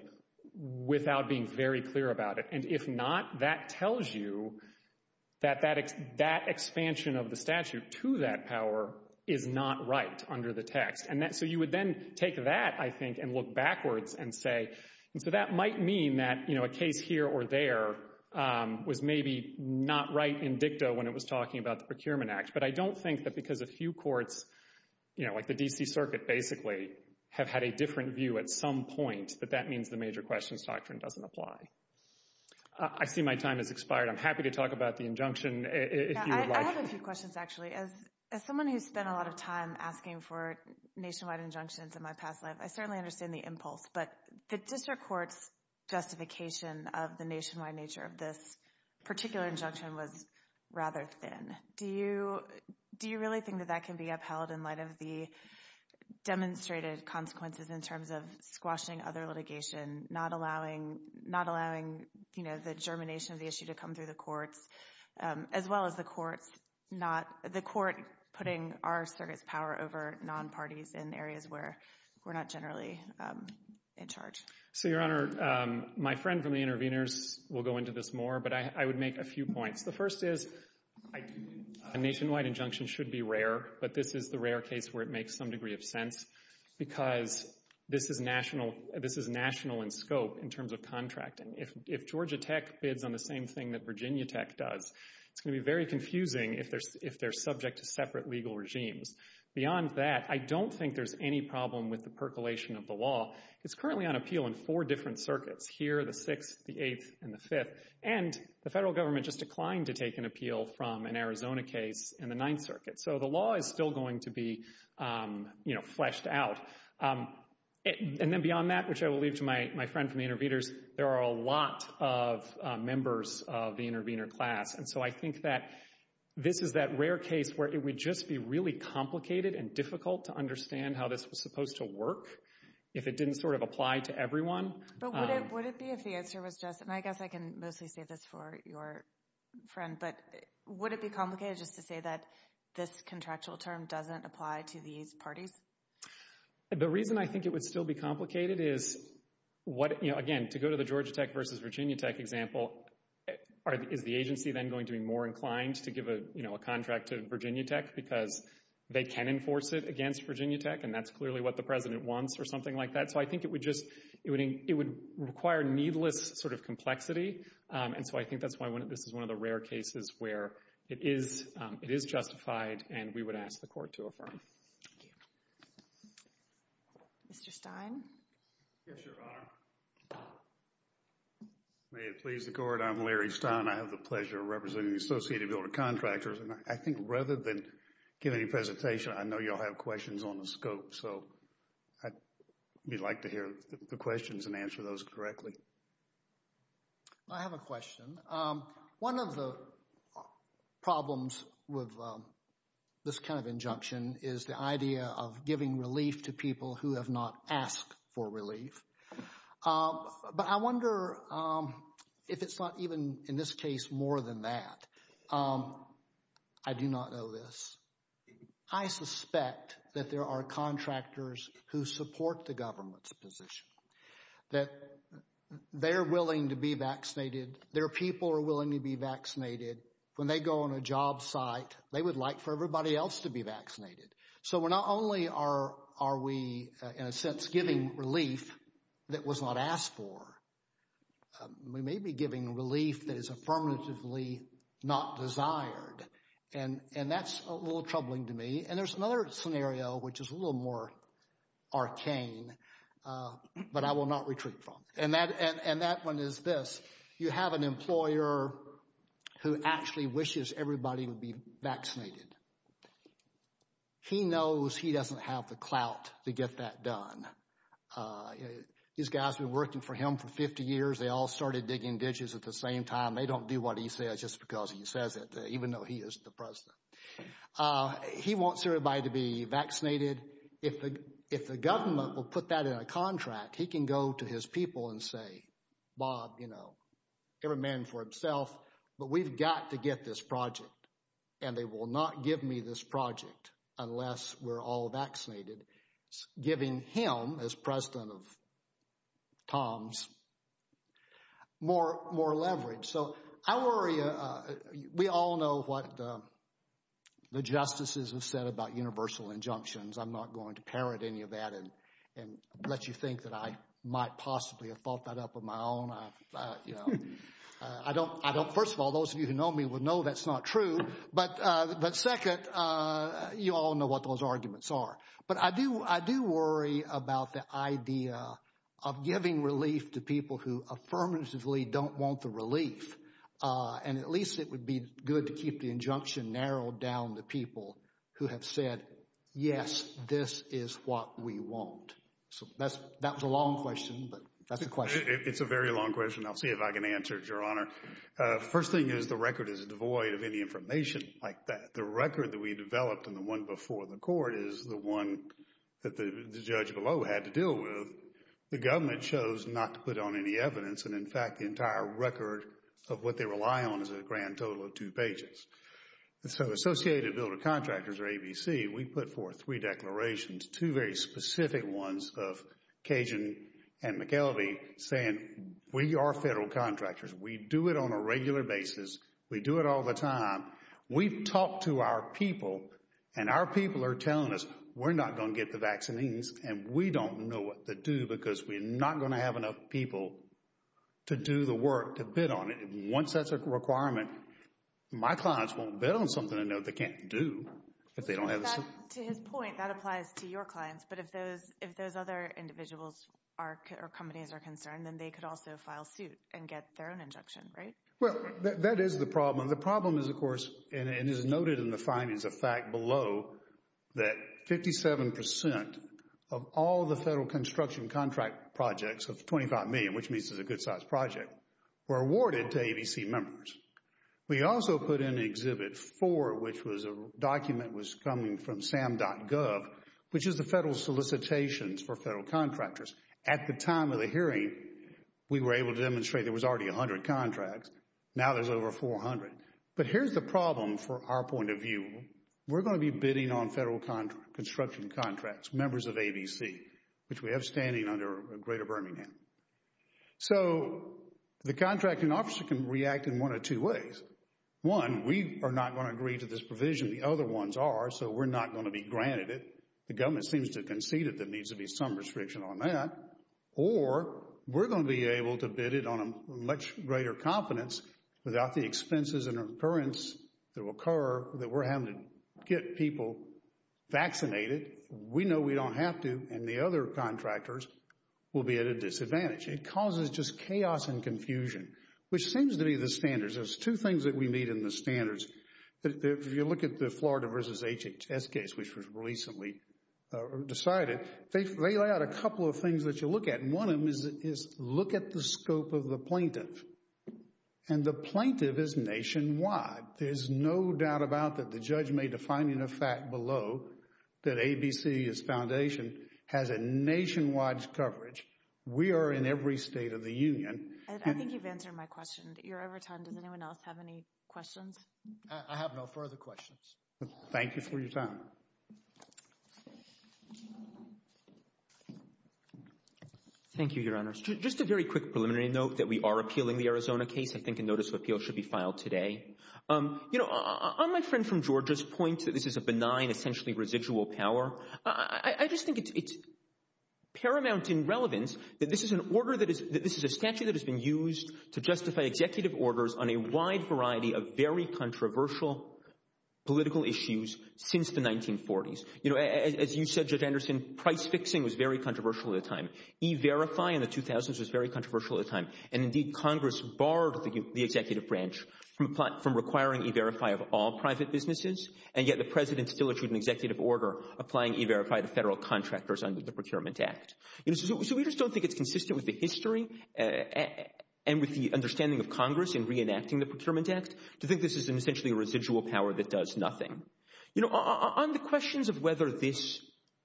without being very clear about it? And if not, that tells you that that expansion of the statute to that power is not right under the text. And so you would then take that, I think, and look backwards and say, and so that might mean that, you know, a case here or there was maybe not right in dicta when it was talking about the Procurement Act. But I don't think that because a few courts, you know, like the D.C. Circuit basically have had a different view at some point, that that means the major questions doctrine doesn't apply. I see my time has expired. I'm happy to talk about the injunction if you would like. I have a few questions, actually. As someone who's spent a lot of time asking for nationwide injunctions in my past life, I certainly understand the impulse. But the district court's justification of the nationwide nature of this particular injunction was rather thin. Do you really think that that can be upheld in light of the demonstrated consequences in terms of squashing other litigation, not allowing, you know, the germination of the issue to come through the courts, as well as the courts not, the court putting our circuit's power over non-parties in areas where we're not generally in charge? So, Your Honor, my friend from the interveners will go into this more. But I would make a few points. The first is a nationwide injunction should be rare. But this is the rare case where it makes some degree of sense because this is national, this is national in scope in terms of contracting. If Georgia Tech bids on the same thing that Virginia Tech does, it's going to be very confusing if they're subject to separate legal regimes. Beyond that, I don't think there's any problem with the percolation of the law. It's currently on appeal in four different circuits. Here, the 6th, the 8th, and the 5th. And the federal government just declined to take an appeal from an Arizona case in the 9th Circuit. So the law is still going to be, you know, fleshed out. And then beyond that, which I will leave to my friend from the interveners, there are a lot of members of the intervener class. And so I think that this is that rare case where it would just be really complicated and difficult to understand how this was supposed to work if it didn't sort of apply to everyone. But would it be if the answer was just, and I guess I can mostly say this for your friend, but would it be complicated just to say that this contractual term doesn't apply to these parties? The reason I think it would still be complicated is what, you know, again, to go to the Georgia Tech versus Virginia Tech example, is the agency then going to be more inclined to give a, you know, a contract to Virginia Tech because they can enforce it against Virginia Tech and that's clearly what the president wants or something like that. So I think it would just, it would require needless sort of complexity. And so I think that's why this is one of the rare cases where it is, it is justified and we would ask the court to affirm. Thank you. Mr. Stein? Yes, Your Honor. May it please the court, I'm Larry Stein. I have the pleasure of representing the Associated Builder Contractors and I think rather than giving a presentation, I know y'all have questions on the scope. So we'd like to hear the questions and answer those correctly. I have a question. One of the problems with this kind of injunction is the idea of giving relief to people who have not asked for relief. But I wonder if it's not even, in this case, more than that. I do not know this. I suspect that there are contractors who support the government's position, that they're willing to be vaccinated. Their people are willing to be vaccinated. When they go on a job site, they would like for everybody else to be vaccinated. So we're not only are we, in a sense, giving relief that was not asked for, we may be giving relief that is affirmatively not desired. And that's a little troubling to me. And there's another scenario which is a little more arcane, but I will not retreat from. And that one is this. You have an employer who actually wishes everybody would be vaccinated. He knows he doesn't have the clout to get that done. These guys have been working for him for 50 years. They all started digging ditches at the same time. They don't do what he says just because he says it, even though he is the president. He wants everybody to be vaccinated. If the government will put that in a contract, he can go to his people and say, Bob, you know, every man for himself. But we've got to get this project. And they will not give me this project unless we're all vaccinated, giving him, as president of TOMS, more leverage. So I worry, we all know what the justices have said about universal injunctions. I'm not going to parrot any of that and let you think that I might possibly have thought that up on my own. I don't, first of all, those of you who know me would know that's not true. But second, you all know what those arguments are. But I do worry about the idea of giving relief to people who affirmatively don't want the relief. And at least it would be good to keep the injunction narrowed down to people who have yes, this is what we want. So that was a long question, but that's the question. It's a very long question. I'll see if I can answer it, Your Honor. First thing is the record is devoid of any information like that. The record that we developed and the one before the court is the one that the judge below had to deal with. The government chose not to put on any evidence. And in fact, the entire record of what they rely on is a grand total of two pages. So Associated Builder Contractors or ABC, we put forth three declarations, two very specific ones of Cajun and McKelvey saying we are federal contractors. We do it on a regular basis. We do it all the time. We've talked to our people and our people are telling us we're not going to get the vaccines and we don't know what to do because we're not going to have enough people to do the work to bid on it. Once that's a requirement, my clients won't bid on something I know they can't do if they don't have the suit. To his point, that applies to your clients. But if those other individuals or companies are concerned, then they could also file suit and get their own injection, right? Well, that is the problem. The problem is, of course, and it is noted in the findings of fact below that 57% of all the federal construction contract projects of $25 million, which means it's a good size project, were awarded to ABC members. We also put in Exhibit 4, which was a document that was coming from SAM.gov, which is the federal solicitations for federal contractors. At the time of the hearing, we were able to demonstrate there was already 100 contracts. Now there's over 400. But here's the problem for our point of view. We're going to be bidding on federal construction contracts, members of ABC, which we have standing under Greater Birmingham. So the contracting officer can react in one of two ways. One, we are not going to agree to this provision. The other ones are, so we're not going to be granted it. The government seems to concede that there needs to be some restriction on that. Or we're going to be able to bid it on a much greater confidence without the expenses and occurrence that will occur that we're having to get people vaccinated. We know we don't have to. And the other contractors will be at a disadvantage. It causes just chaos and confusion, which seems to be the standards. There's two things that we need in the standards. If you look at the Florida versus HHS case, which was recently decided, they lay out a couple of things that you look at. And one of them is look at the scope of the plaintiff. And the plaintiff is nationwide. There's no doubt about that. The judge may define in effect below that ABC's foundation has a nationwide coverage. We are in every state of the union. And I think you've answered my question. You're over time. Does anyone else have any questions? I have no further questions. Thank you for your time. Thank you, Your Honor. Just a very quick preliminary note that we are appealing the Arizona case. I think a notice of appeal should be filed today. You know, on my friend from Georgia's point that this is a benign, essentially residual power, I just think it's paramount in relevance that this is a statute that has been used to justify executive orders on a wide variety of very controversial political issues since the 1940s. You know, as you said, Judge Anderson, price fixing was very controversial at the time. E-Verify in the 2000s was very controversial at the time. And indeed, Congress barred the executive branch from requiring E-Verify of all private businesses. And yet the president still issued an executive order applying E-Verify to federal contractors under the Procurement Act. So we just don't think it's consistent with the history and with the understanding of Congress in reenacting the Procurement Act to think this is essentially a residual power that does nothing. You know, on the questions of whether this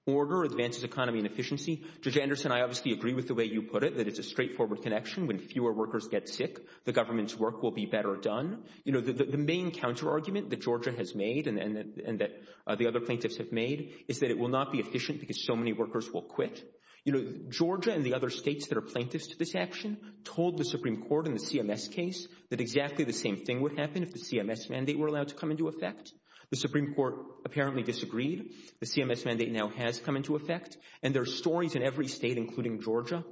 order advances economy and efficiency, Judge Anderson, I obviously agree with the way you put it, that it's a straightforward connection when fewer workers get sick, the government's work will be better done. You know, the main counterargument that Georgia has made and that the other plaintiffs have made is that it will not be efficient because so many workers will quit. You know, Georgia and the other states that are plaintiffs to this action told the Supreme Court in the CMS case that exactly the same thing would happen if the CMS mandate were allowed to come into effect. The Supreme Court apparently disagreed. The CMS mandate now has come into effect. And there are stories in every state, including Georgia,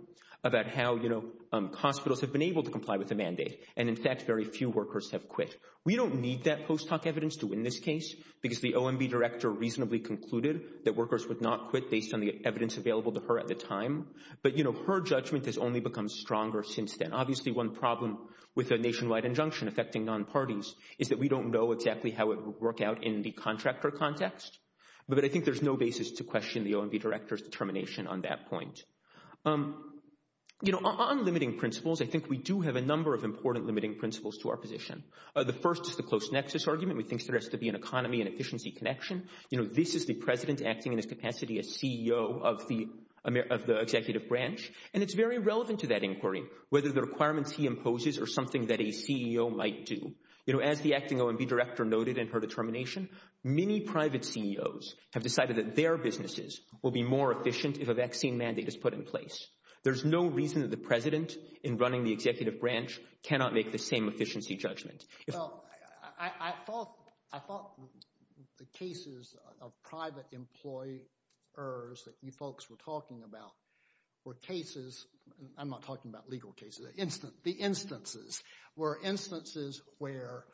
about how, you know, hospitals have been able to comply with the mandate. And in fact, very few workers have quit. We don't need that post hoc evidence to win this case because the OMB director reasonably concluded that workers would not quit based on the evidence available to her at the time. But, you know, her judgment has only become stronger since then. Obviously, one problem with a nationwide injunction affecting non-parties is that we don't know exactly how it would work out in the contractor context. But I think there's no basis to question the OMB director's determination on that point. You know, on limiting principles, I think we do have a number of important limiting principles to our position. The first is the close nexus argument. We think there has to be an economy and efficiency connection. You know, this is the president acting in his capacity as CEO of the executive branch. And it's very relevant to that inquiry, whether the requirements he imposes are something that a CEO might do. You know, as the acting OMB director noted in her determination, many private CEOs have decided that their businesses will be more efficient if a vaccine mandate is put in place. There's no reason that the president, in running the executive branch, cannot make the same efficiency judgment. Well, I thought the cases of private employers that you folks were talking about were cases, I'm not talking about legal cases, the instances, were instances where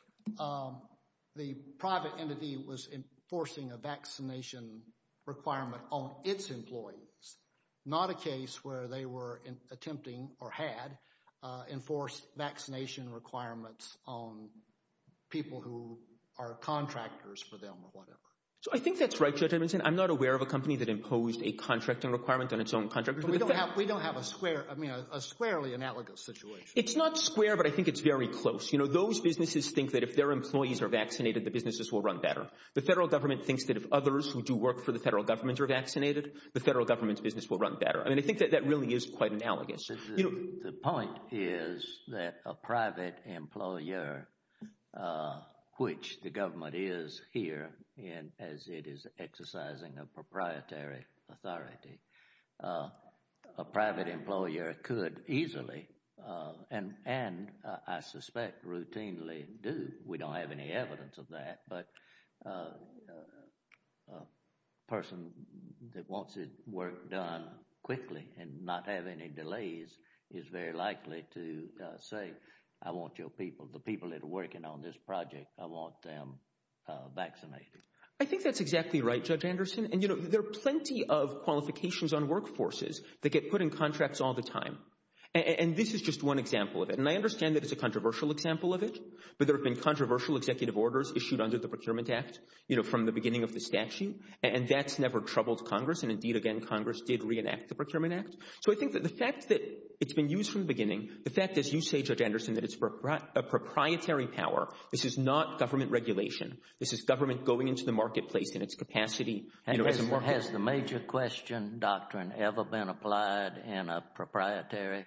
the private entity was enforcing a vaccination requirement on its employees, not a case where they were attempting or had enforced vaccination requirements on people who are contractors for them or whatever. So I think that's right, Judge Edmondson. I'm not aware of a company that imposed a contracting requirement on its own contractors. We don't have a square, I mean, a squarely analogous situation. It's not square, but I think it's very close. You know, those businesses think that if their employees are vaccinated, the businesses will run better. The federal government thinks that if others who do work for the federal government are vaccinated, the federal government's business will run better. I mean, I think that that really is quite analogous. The point is that a private employer, which the government is here as it is exercising a proprietary authority, a private employer could easily, and I suspect routinely do, we don't have any evidence of that, but a person that wants his work done quickly and not have any delays is very likely to say, I want your people, the people that are working on this project, I want them vaccinated. I think that's exactly right, Judge Anderson. And, you know, there are plenty of qualifications on workforces that get put in contracts all the time, and this is just one example of it. And I understand that it's a controversial example of it, but there have been controversial executive orders issued under the Procurement Act, you know, from the beginning of the statute, and that's never troubled Congress. And indeed, again, Congress did reenact the Procurement Act. So I think that the fact that it's been used from the beginning, the fact, as you say, Judge Anderson, that it's a proprietary power, this is not government regulation. This is government going into the marketplace in its capacity, you know, as a worker. Has the major question doctrine ever been applied in a proprietary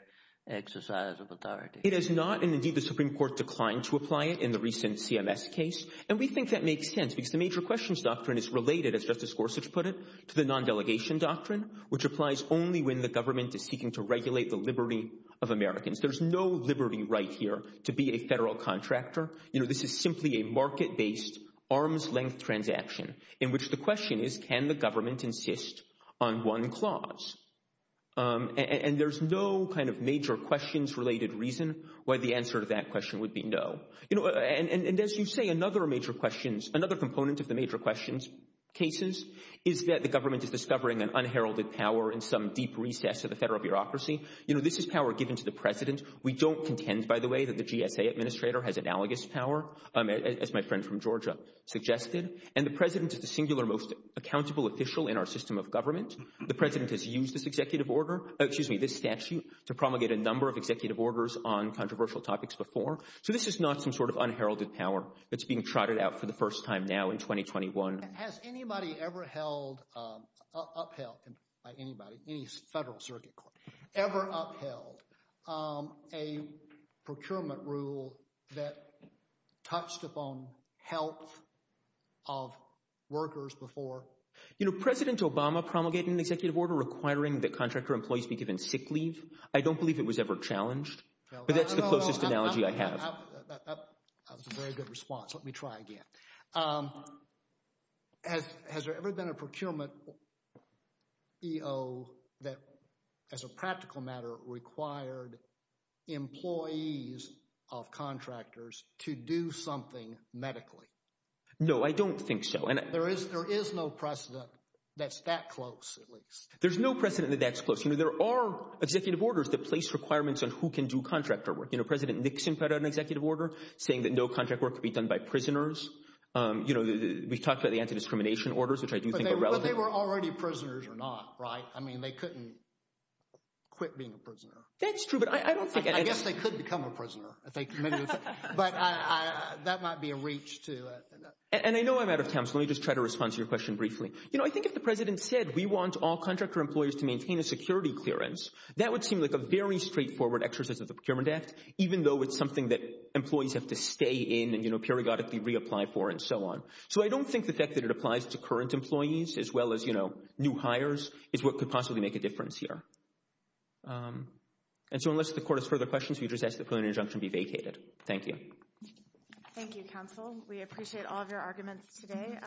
exercise of authority? It has not, and indeed the Supreme Court declined to apply it in the recent CMS case. And we think that makes sense because the major questions doctrine is related, as Justice Gorsuch put it, to the non-delegation doctrine, which applies only when the government is seeking to regulate the liberty of Americans. There's no liberty right here to be a federal contractor. You know, this is simply a market-based, arm's-length transaction in which the question is, can the government insist on one clause? And there's no kind of major questions-related reason why the answer to that question would be no. You know, and as you say, another major questions, another component of the major questions cases is that the government is discovering an unheralded power in some deep recess of the federal bureaucracy. You know, this is power given to the President. We don't contend, by the way, that the GSA Administrator has analogous power, as my friend from Georgia suggested. And the President is the singular most accountable official in our system of government. The President has used this executive order, excuse me, this statute to promulgate a number of executive orders on controversial topics before. So this is not some sort of unheralded power that's being trotted out for the first time now in 2021. Has anybody ever held, upheld by anybody, any federal circuit court, ever upheld a procurement rule that touched upon health of workers before? You know, President Obama promulgated an executive order requiring that contractor employees be given sick leave. I don't believe it was ever challenged, but that's the closest analogy I have. That was a very good response. Let me try again. Has there ever been a procurement EO that, as a practical matter, required employees of contractors to do something medically? No, I don't think so. And there is no precedent that's that close, at least. There's no precedent that that's close. You know, there are executive orders that place requirements on who can do contractor work. You know, President Nixon put out an executive order saying that no contract work could be done by prisoners. You know, we've talked about the anti-discrimination orders, which I do think are relevant. But they were already prisoners or not, right? I mean, they couldn't quit being a prisoner. That's true, but I don't think... I guess they could become a prisoner. But that might be a reach to... And I know I'm out of time, so let me just try to respond to your question briefly. You know, I think if the President said, we want all contractor employers to maintain a security clearance, that would seem like a very straightforward exercise of the Procurement Act, even though it's something that employees have to stay in and, you know, periodically reapply for and so on. So I don't think the fact that it applies to current employees, as well as, you know, new hires, is what could possibly make a difference here. And so unless the Court has further questions, we just ask that the plenary injunction be vacated. Thank you. Thank you, Counsel. We appreciate all of your arguments today.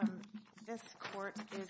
This Court is adjourned. Thank you.